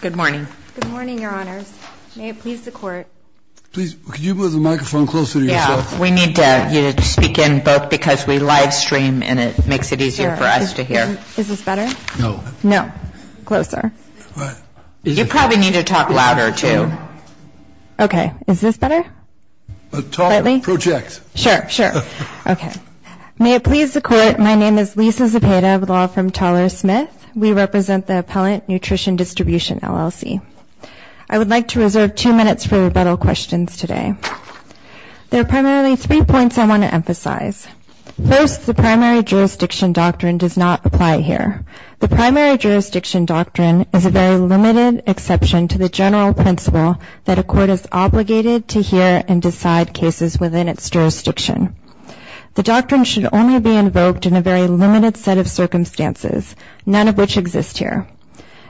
Good morning. Good morning, Your Honors. May it please the Court. Please, could you move the microphone closer to yourself? Yeah, we need you to speak in both because we live stream and it makes it easier for us to hear. Is this better? No. No. Closer. You probably need to talk louder, too. Okay. Is this better? Talk, project. Sure, sure. Okay. May it please the Court, my name is Lisa Zepeda with a law from Teller Smith. We represent the Appellant Nutrition Distribution, LLC. I would like to reserve two minutes for rebuttal questions today. There are primarily three points I want to emphasize. First, the primary jurisdiction doctrine does not apply here. The primary jurisdiction doctrine is a very limited exception to the general principle that a court is obligated to hear and decide cases within its jurisdiction. The doctrine should only be invoked in a very limited set of circumstances. None of which exist here.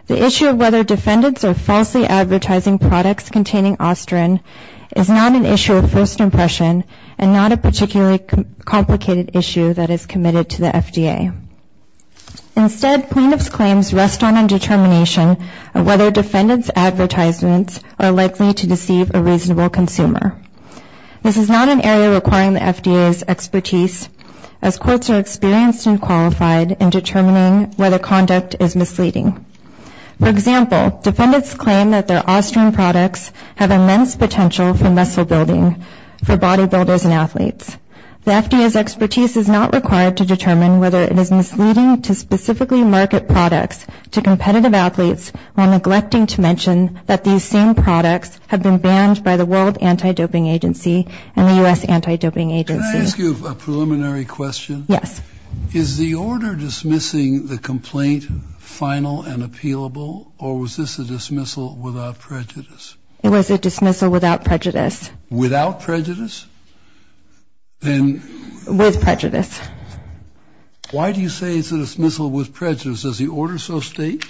The issue of whether defendants are falsely advertising products containing ostrin is not an issue of first impression and not a particularly complicated issue that is committed to the FDA. Instead, plaintiffs' claims rest on a determination of whether defendants' advertisements are likely to deceive a reasonable consumer. This is not an area requiring the FDA's expertise, as courts are experienced and qualified in determining whether conduct is misleading. For example, defendants claim that their ostrin products have immense potential for muscle building for bodybuilders and athletes. The FDA's expertise is not required to determine whether it is misleading to specifically market products to competitive athletes while neglecting to mention that these same products have been banned by the World Anti-Doping Agency and the U.S. Anti-Doping Agency. defendants' advertisements are likely to deceive a reasonable consumer. Kennedy. Can I ask you a preliminary question? Yes. Is the order dismissing the complaint final and appealable, or was this a dismissal without prejudice? It was a dismissal without prejudice. Without prejudice? With prejudice. Why do you say it's a dismissal with prejudice? Does the order so state?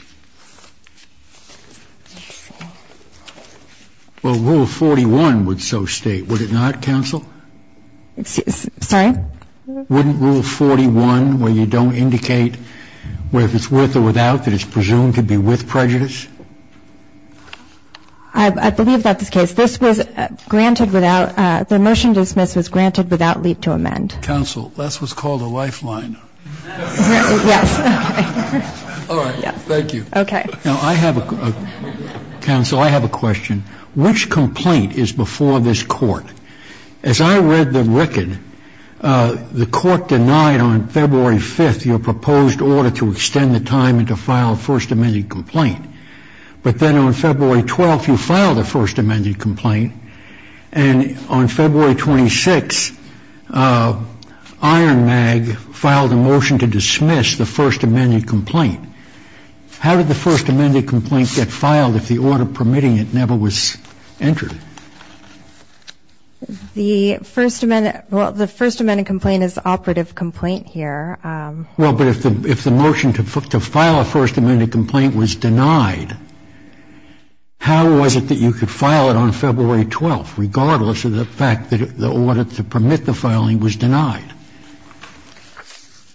Well, Rule 41 would so state. Would it not, counsel? Sorry? Wouldn't Rule 41, where you don't indicate whether it's with or without, that it's presumed to be with prejudice? I believe that's the case. This was granted without the motion to dismiss was granted without leap to amend. Counsel, that's what's called a lifeline. Yes. All right. Thank you. Okay. Now, I have a, counsel, I have a question. Which complaint is before this court? As I read the record, the court denied on February 5th your proposed order to extend the time to file a first amended complaint. But then on February 12th, you filed a first amended complaint. And on February 26th, Iron Mag filed a motion to dismiss the first amended complaint. How did the first amended complaint get filed if the order permitting it never was entered? The first amended, well, the first amended complaint is operative complaint here. Well, but if the motion to file a first amended complaint was denied, how was it that you could file it on February 12th, regardless of the fact that the order to permit the filing was denied?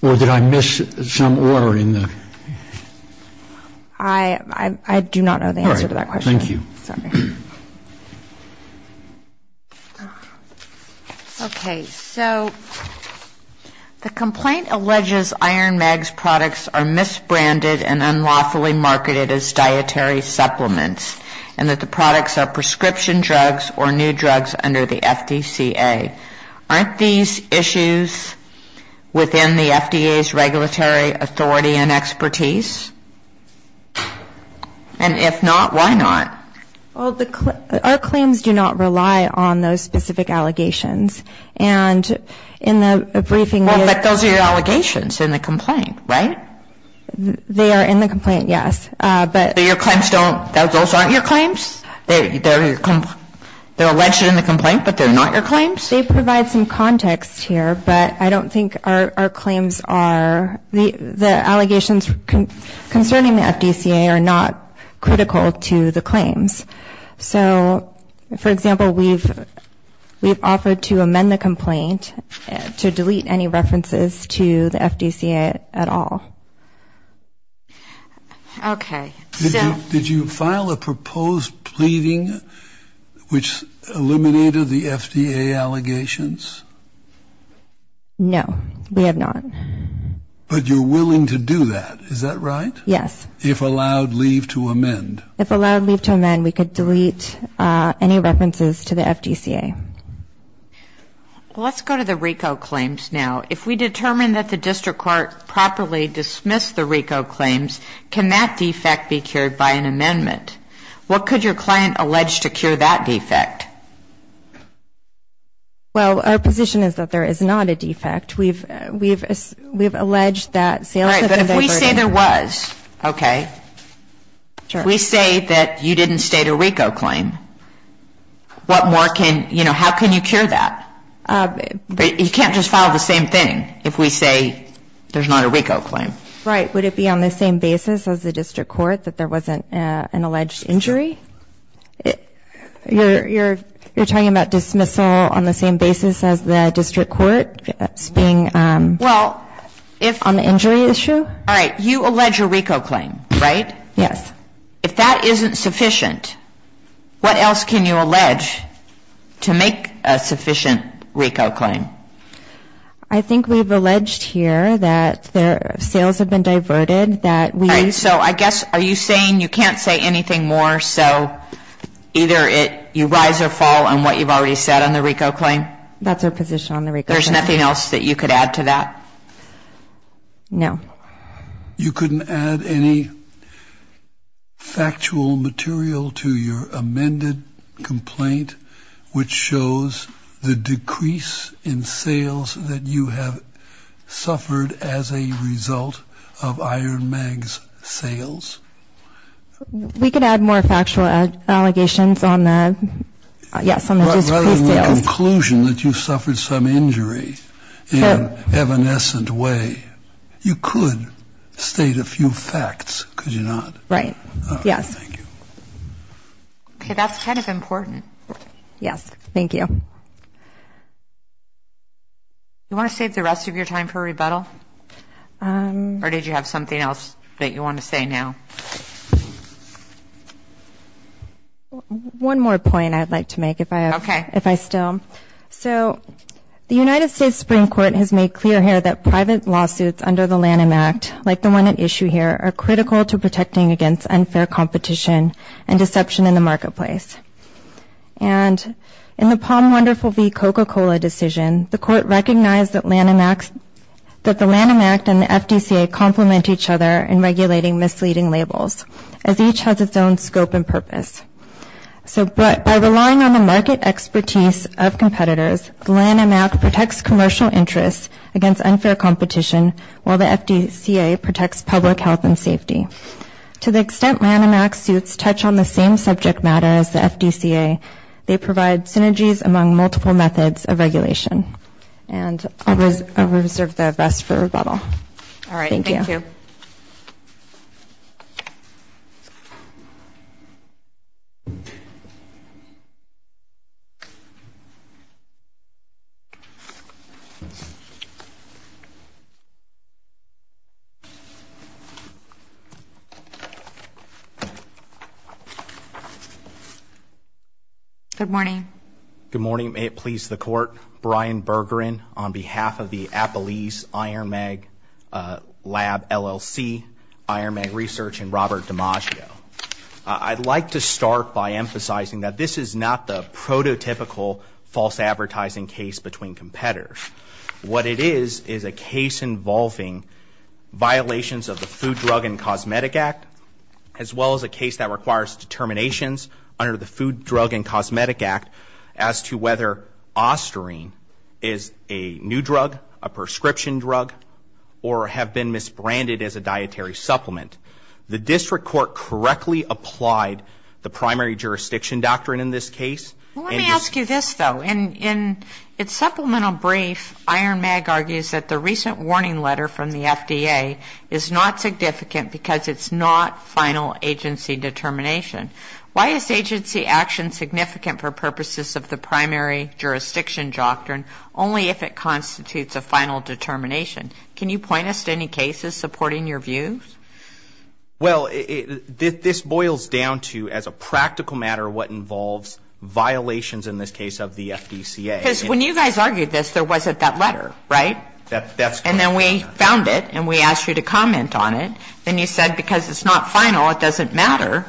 Or did I miss some order in the? I do not know the answer to that question. Thank you. Sorry. Okay. So the complaint alleges Iron Mag's products are misbranded and unlawfully marketed as dietary supplements, and that the products are prescription drugs or new drugs under the FDCA. Aren't these issues within the FDA's regulatory authority and expertise? And if not, why not? Well, our claims do not rely on those specific allegations. And in the briefing we had. Well, but those are your allegations in the complaint, right? They are in the complaint, yes. But your claims don't, those aren't your claims? They're alleged in the complaint, but they're not your claims? They provide some context here, but I don't think our claims are, the allegations concerning the FDCA are not critical to the claims. So, for example, we've offered to amend the complaint to delete any references to the FDCA at all. Okay. Did you file a proposed pleading which eliminated the FDA allegations? No, we have not. But you're willing to do that, is that right? Yes. If allowed leave to amend? If allowed leave to amend, we could delete any references to the FDCA. Well, let's go to the RICO claims now. If we determine that the district court properly dismissed the RICO claims, can that defect be cured by an amendment? What could your client allege to cure that defect? Well, our position is that there is not a defect. We've alleged that sales of the third party. All right, but if we say there was, okay, if we say that you didn't state a RICO claim, what more can, you know, how can you cure that? You can't just file the same thing if we say there's not a RICO claim. Right. Would it be on the same basis as the district court that there wasn't an alleged injury? You're talking about dismissal on the same basis as the district court being on the injury issue? All right, you allege a RICO claim, right? Yes. If that isn't sufficient, what else can you allege to make a sufficient RICO claim? I think we've alleged here that sales have been diverted. All right, so I guess are you saying you can't say anything more, so either you rise or fall on what you've already said on the RICO claim? That's our position on the RICO claim. There's nothing else that you could add to that? No. You couldn't add any factual material to your amended complaint, which shows the decrease in sales that you have suffered as a result of Iron Mag's sales? We could add more factual allegations on the, yes, on the decreased sales. Rather than the conclusion that you suffered some injury in an evanescent way, you could state a few facts, could you not? Right. Yes. Thank you. Okay, that's kind of important. Yes, thank you. You want to save the rest of your time for rebuttal? Or did you have something else that you want to say now? One more point I'd like to make if I still. So the United States Supreme Court has made clear here that private lawsuits under the Lanham Act, like the one at issue here, are critical to protecting against unfair competition and deception in the marketplace. And in the Palm Wonderful v. Coca-Cola decision, the Court recognized that the Lanham Act and the FDCA complement each other in regulating misleading labels, as each has its own scope and purpose. So by relying on the market expertise of competitors, the Lanham Act protects commercial interests against unfair competition, while the FDCA protects public health and safety. To the extent Lanham Act suits touch on the same subject matter as the FDCA, they provide synergies among multiple methods of regulation. And I'll reserve the rest for rebuttal. All right. Thank you. Good morning. May it please the Court. Brian Bergeron on behalf of the Appelese Iron Mag Lab, LLC, Iron Mag Research, and Robert DiMaggio. I'd like to start by emphasizing that this is not the prototypical false advertising case between competitors. What it is is a case involving violations of the Food, Drug, and Cosmetic Act, as well as a case that requires determinations under the Food, Drug, and Cosmetic Act as to whether Osterine is a new drug, a prescription drug, or have been misbranded as a dietary supplement. The district court correctly applied the primary jurisdiction doctrine in this case. Well, let me ask you this, though. In its supplemental brief, Iron Mag argues that the recent warning letter from the FDA is not significant because it's not final agency determination. Why is agency action significant for purposes of the primary jurisdiction doctrine only if it constitutes a final determination? Can you point us to any cases supporting your views? Well, this boils down to, as a practical matter, what involves violations in this case of the FDCA. Because when you guys argued this, there wasn't that letter, right? That's correct. And then we found it, and we asked you to comment on it. Then you said, because it's not final, it doesn't matter.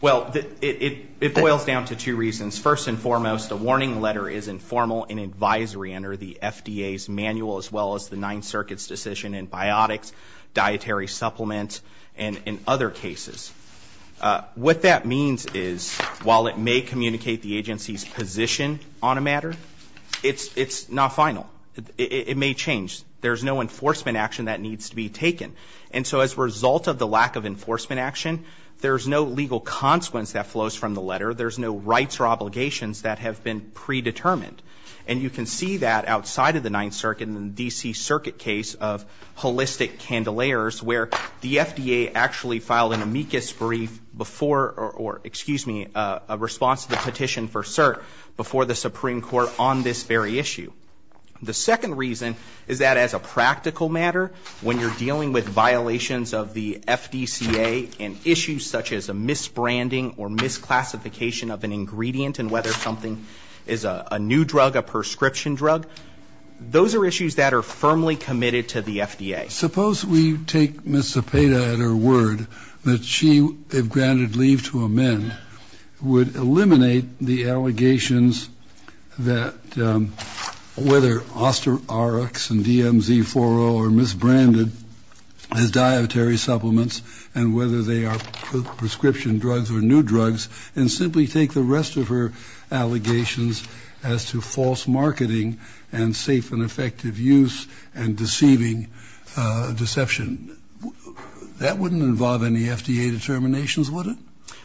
Well, it boils down to two reasons. First and foremost, the warning letter is informal in advisory under the FDA's manual as well as the Ninth Circuit's decision in biotics, dietary supplements, and in other cases. What that means is, while it may communicate the agency's position on a matter, it's not final. It may change. There's no enforcement action that needs to be taken. And so as a result of the lack of enforcement action, there's no legal consequence that flows from the letter. There's no rights or obligations that have been predetermined. And you can see that outside of the Ninth Circuit and the D.C. Circuit case of holistic candelayers where the FDA actually filed an amicus brief before or, excuse me, a response to the petition for cert before the Supreme Court on this very issue. The second reason is that as a practical matter, when you're dealing with violations of the FDCA and issues such as a misbranding or misclassification of an ingredient and whether something is a new drug, a prescription drug, those are issues that are firmly committed to the FDA. Suppose we take Ms. Zepeda at her word that she, if granted leave to amend, would eliminate the allegations that whether Osterox and DMZ-40 are misbranded as dietary supplements and whether they are prescription drugs or new drugs and simply take the rest of her allegations as to false marketing and safe and effective use and deceiving deception. That wouldn't involve any FDA determinations, would it?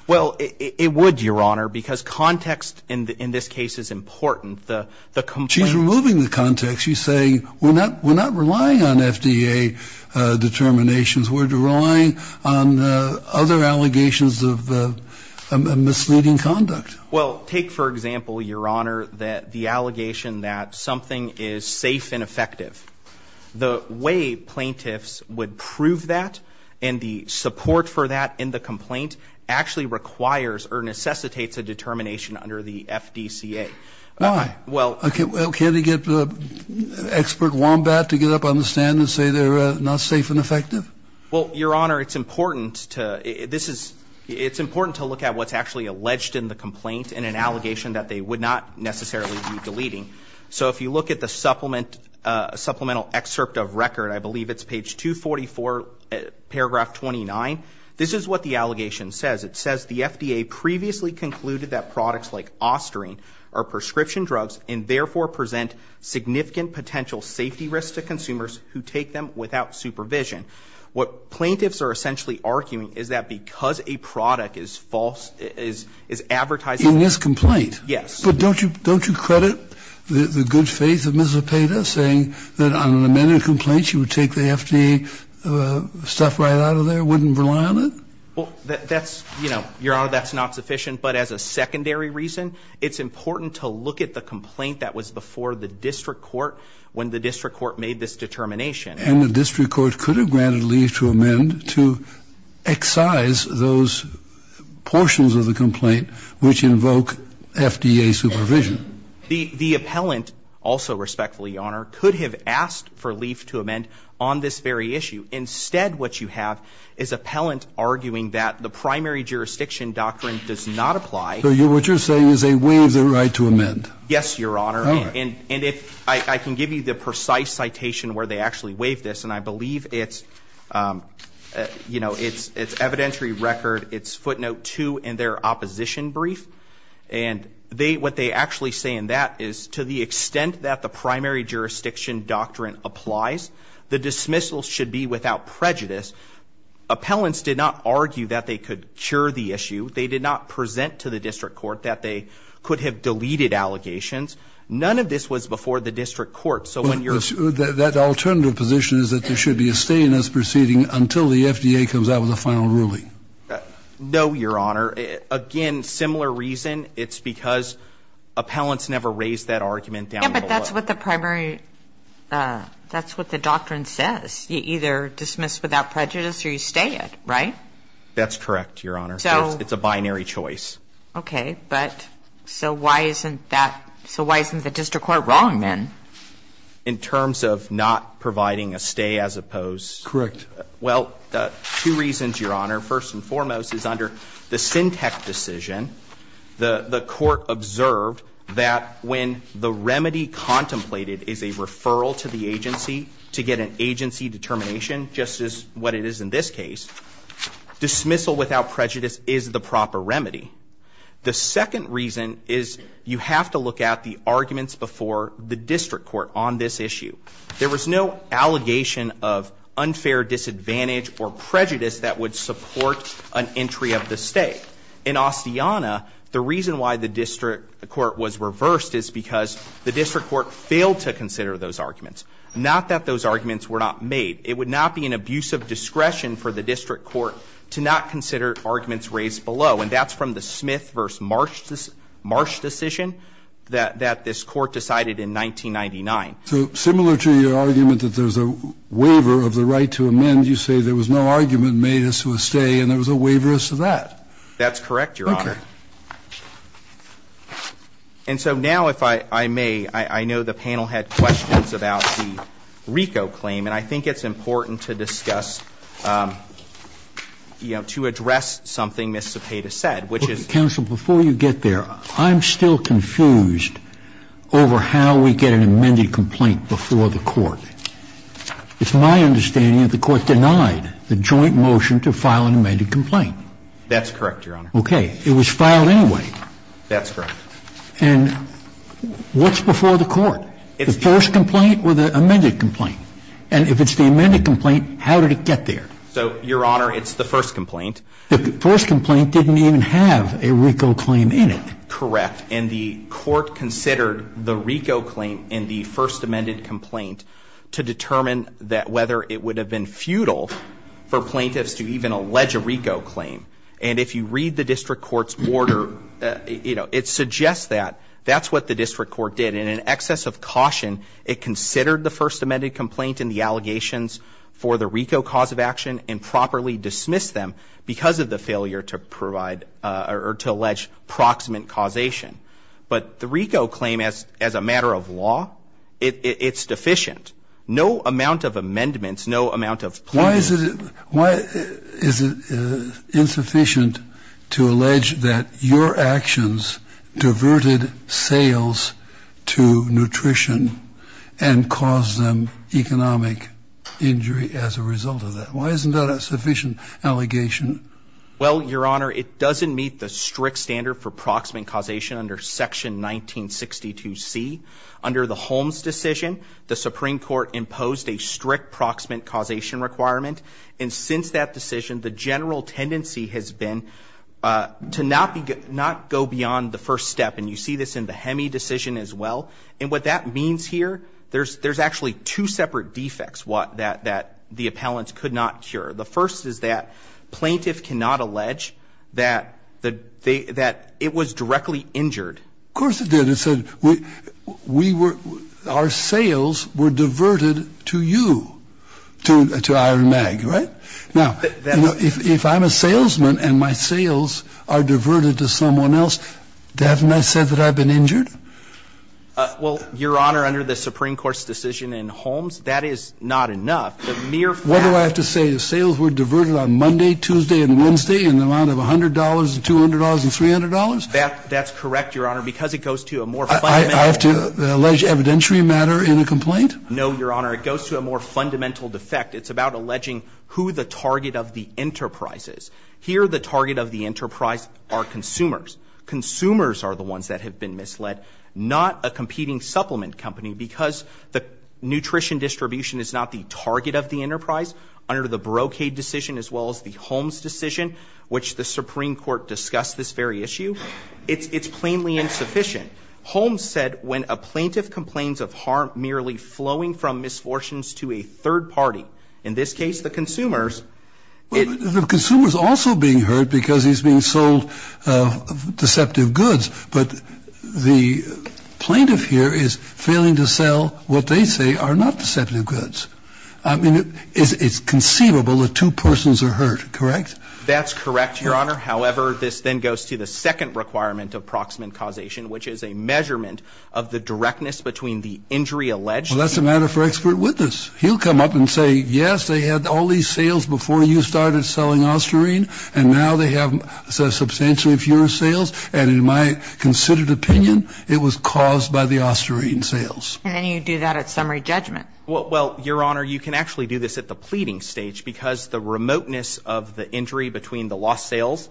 Well, it would, Your Honor, because context in this case is important. She's removing the context. She's saying we're not relying on FDA determinations. We're relying on other allegations of misleading conduct. Well, take, for example, Your Honor, the allegation that something is safe and effective. The way plaintiffs would prove that and the support for that in the complaint actually requires or necessitates a determination under the FDCA. Why? Well, can't they get expert wombat to get up on the stand and say they're not safe and effective? Well, Your Honor, it's important to look at what's actually alleged in the complaint So if you look at the supplemental excerpt of record, I believe it's page 244, paragraph 29, this is what the allegation says. It says the FDA previously concluded that products like Osterine are prescription drugs and therefore present significant potential safety risks to consumers who take them without supervision. What plaintiffs are essentially arguing is that because a product is false, is advertising In this complaint? Yes. But don't you credit the good faith of Ms. Zepeda saying that on an amended complaint she would take the FDA stuff right out of there, wouldn't rely on it? Well, that's, Your Honor, that's not sufficient. But as a secondary reason, it's important to look at the complaint that was before the district court when the district court made this determination. And the district court could have granted leave to amend to excise those portions of the complaint which invoke FDA supervision. The appellant also, respectfully, Your Honor, could have asked for leave to amend on this very issue. Instead, what you have is appellant arguing that the primary jurisdiction doctrine does not apply. So what you're saying is they waive the right to amend? Yes, Your Honor. And if I can give you the precise citation where they actually waive this, and I believe it's evidentiary record, it's footnote 2 in their opposition brief. And what they actually say in that is to the extent that the primary jurisdiction doctrine applies, the dismissal should be without prejudice. Appellants did not argue that they could cure the issue. They did not present to the district court that they could have deleted allegations. None of this was before the district court. That alternative position is that there should be a stay in this proceeding until the FDA comes out with a final ruling. No, Your Honor. Again, similar reason. It's because appellants never raised that argument down below. Yeah, but that's what the primary, that's what the doctrine says. You either dismiss without prejudice or you stay it, right? That's correct, Your Honor. It's a binary choice. Okay, but so why isn't that, so why isn't the district court wrong then? In terms of not providing a stay as opposed? Correct. Well, two reasons, Your Honor. First and foremost is under the Syntec decision, the court observed that when the remedy contemplated is a referral to the agency to get an agency determination, just as what it is in this case, dismissal without prejudice is the proper remedy. The second reason is you have to look at the arguments before the district court on this issue. There was no allegation of unfair disadvantage or prejudice that would support an entry of the stay. In Ostiana, the reason why the district court was reversed is because the district court failed to consider those arguments. Not that those arguments were not made. It would not be an abuse of discretion for the district court to not consider arguments raised below, and that's from the Smith v. Marsh decision that this court decided in 1999. So similar to your argument that there's a waiver of the right to amend, you say there was no argument made as to a stay and there was a waiver as to that. That's correct, Your Honor. Okay. And so now if I may, I know the panel had questions about the RICO claim, and I think it's important to discuss, you know, to address something Ms. Cepeda said, which is — Counsel, before you get there, I'm still confused over how we get an amended complaint before the court. It's my understanding that the court denied the joint motion to file an amended complaint. That's correct, Your Honor. Okay. It was filed anyway. That's correct. And what's before the court? The first complaint or the amended complaint? And if it's the amended complaint, how did it get there? So, Your Honor, it's the first complaint. The first complaint didn't even have a RICO claim in it. Correct. And the court considered the RICO claim in the first amended complaint to determine whether it would have been futile for plaintiffs to even allege a RICO claim. And if you read the district court's order, you know, it suggests that that's what the district court did. And in excess of caution, it considered the first amended complaint and the allegations for the RICO cause of action and properly dismissed them because of the failure to provide or to allege proximate causation. But the RICO claim, as a matter of law, it's deficient. No amount of amendments, no amount of plaintiffs. Why is it insufficient to allege that your actions diverted sales to nutrition and caused them economic injury as a result of that? Why isn't that a sufficient allegation? Well, Your Honor, it doesn't meet the strict standard for proximate causation under Section 1962C. Under the Holmes decision, the Supreme Court imposed a strict proximate causation requirement. And since that decision, the general tendency has been to not go beyond the first step. And you see this in the HEMI decision as well. And what that means here, there's actually two separate defects that the appellants could not cure. The first is that plaintiff cannot allege that it was directly injured. Of course it did. It said we were ‑‑ our sales were diverted to you, to Iron Mag, right? Now, if I'm a salesman and my sales are diverted to someone else, doesn't that say that I've been injured? Well, Your Honor, under the Supreme Court's decision in Holmes, that is not enough. The mere fact ‑‑ What do I have to say? The sales were diverted on Monday, Tuesday and Wednesday in the amount of $100 and $200 and $300? That's correct, Your Honor. Because it goes to a more fundamental ‑‑ I have to allege evidentiary matter in a complaint? No, Your Honor. It goes to a more fundamental defect. It's about alleging who the target of the enterprise is. Here the target of the enterprise are consumers. Consumers are the ones that have been misled, not a competing supplement company because the nutrition distribution is not the target of the enterprise. Under the Brocade decision as well as the Holmes decision, which the Supreme Court discussed this very issue, it's plainly insufficient. Holmes said when a plaintiff complains of harm merely flowing from misfortunes to a third party, in this case the consumers ‑‑ The consumer is also being hurt because he's being sold deceptive goods. But the plaintiff here is failing to sell what they say are not deceptive goods. I mean, it's conceivable that two persons are hurt, correct? That's correct, Your Honor. However, this then goes to the second requirement of proximate causation, which is a measurement of the directness between the injury alleged ‑‑ Well, that's a matter for expert witness. He'll come up and say, yes, they had all these sales before you started selling Osterine, and now they have substantially fewer sales. And in my considered opinion, it was caused by the Osterine sales. And then you do that at summary judgment. Well, Your Honor, you can actually do this at the pleading stage because the remoteness of the injury between the lost sales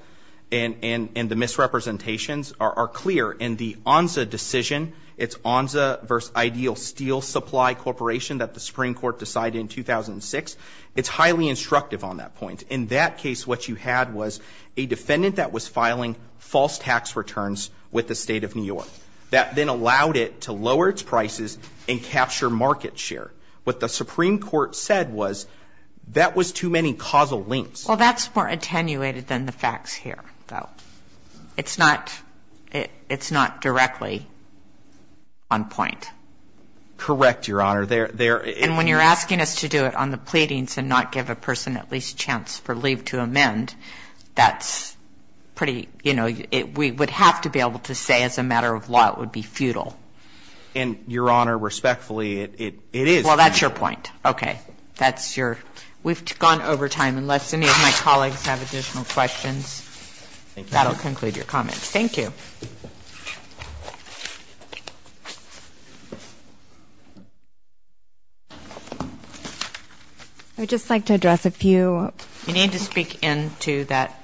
and the misrepresentations are clear. In the ONSA decision, it's ONSA versus Ideal Steel Supply Corporation that the Supreme Court decided in 2006. It's highly instructive on that point. In that case, what you had was a defendant that was filing false tax returns with the State of New York. That then allowed it to lower its prices and capture market share. What the Supreme Court said was that was too many causal links. Well, that's more attenuated than the facts here, though. It's not directly on point. Correct, Your Honor. And when you're asking us to do it on the pleadings and not give a person at least a chance for leave to amend, that's pretty, you know, we would have to be able to say as a matter of law it would be futile. And, Your Honor, respectfully, it is futile. Well, that's your point. Okay. That's your ‑‑ we've gone over time. Unless any of my colleagues have additional questions, that will conclude your comments. Thank you. I would just like to address a few ‑‑ You need to speak into that.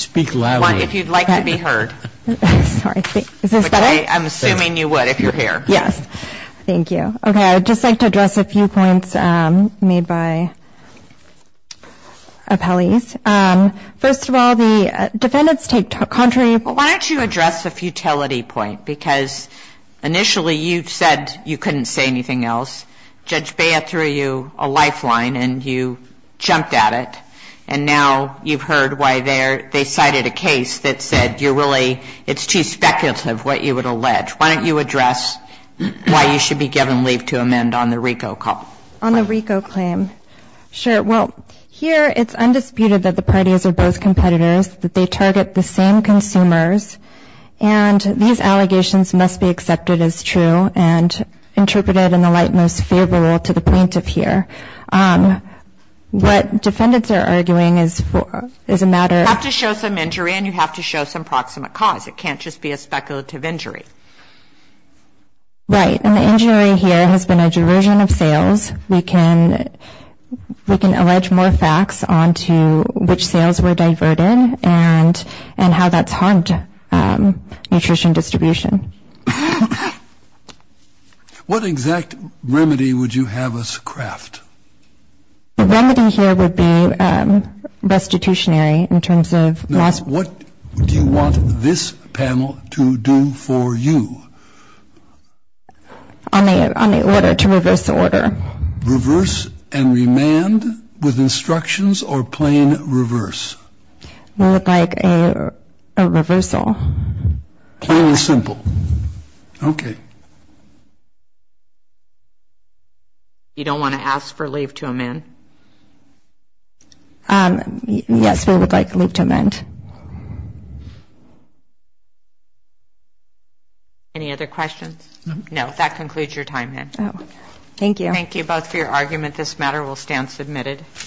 Speak loudly. If you'd like to be heard. Sorry. Is this better? I'm assuming you would if you're here. Yes. Thank you. Okay. I would just like to address a few points made by appellees. First of all, the defendants take contrary ‑‑ Why don't you address the futility point? Because initially you said you couldn't say anything else. Judge Bea threw you a lifeline and you jumped at it. And now you've heard why they cited a case that said you're really ‑‑ it's too speculative what you would allege. Why don't you address why you should be given leave to amend on the RICO claim? On the RICO claim. Sure. Well, here it's undisputed that the parties are both competitors, that they target the same consumers, and these allegations must be accepted as true and interpreted in the light most favorable to the plaintiff here. What defendants are arguing is a matter of ‑‑ You have to show some injury and you have to show some proximate cause. It can't just be a speculative injury. Right. And the injury here has been a diversion of sales. We can allege more facts on to which sales were diverted and how that's harmed nutrition distribution. What exact remedy would you have us craft? The remedy here would be restitutionary in terms of loss ‑‑ Now, what do you want this panel to do for you? On the order to reverse the order. Reverse and remand with instructions or plain reverse? More like a reversal. Plain and simple. Okay. You don't want to ask for leave to amend? Yes, we would like leave to amend. Any other questions? No, that concludes your time, then. Thank you. Thank you both for your argument. This matter will stand submitted.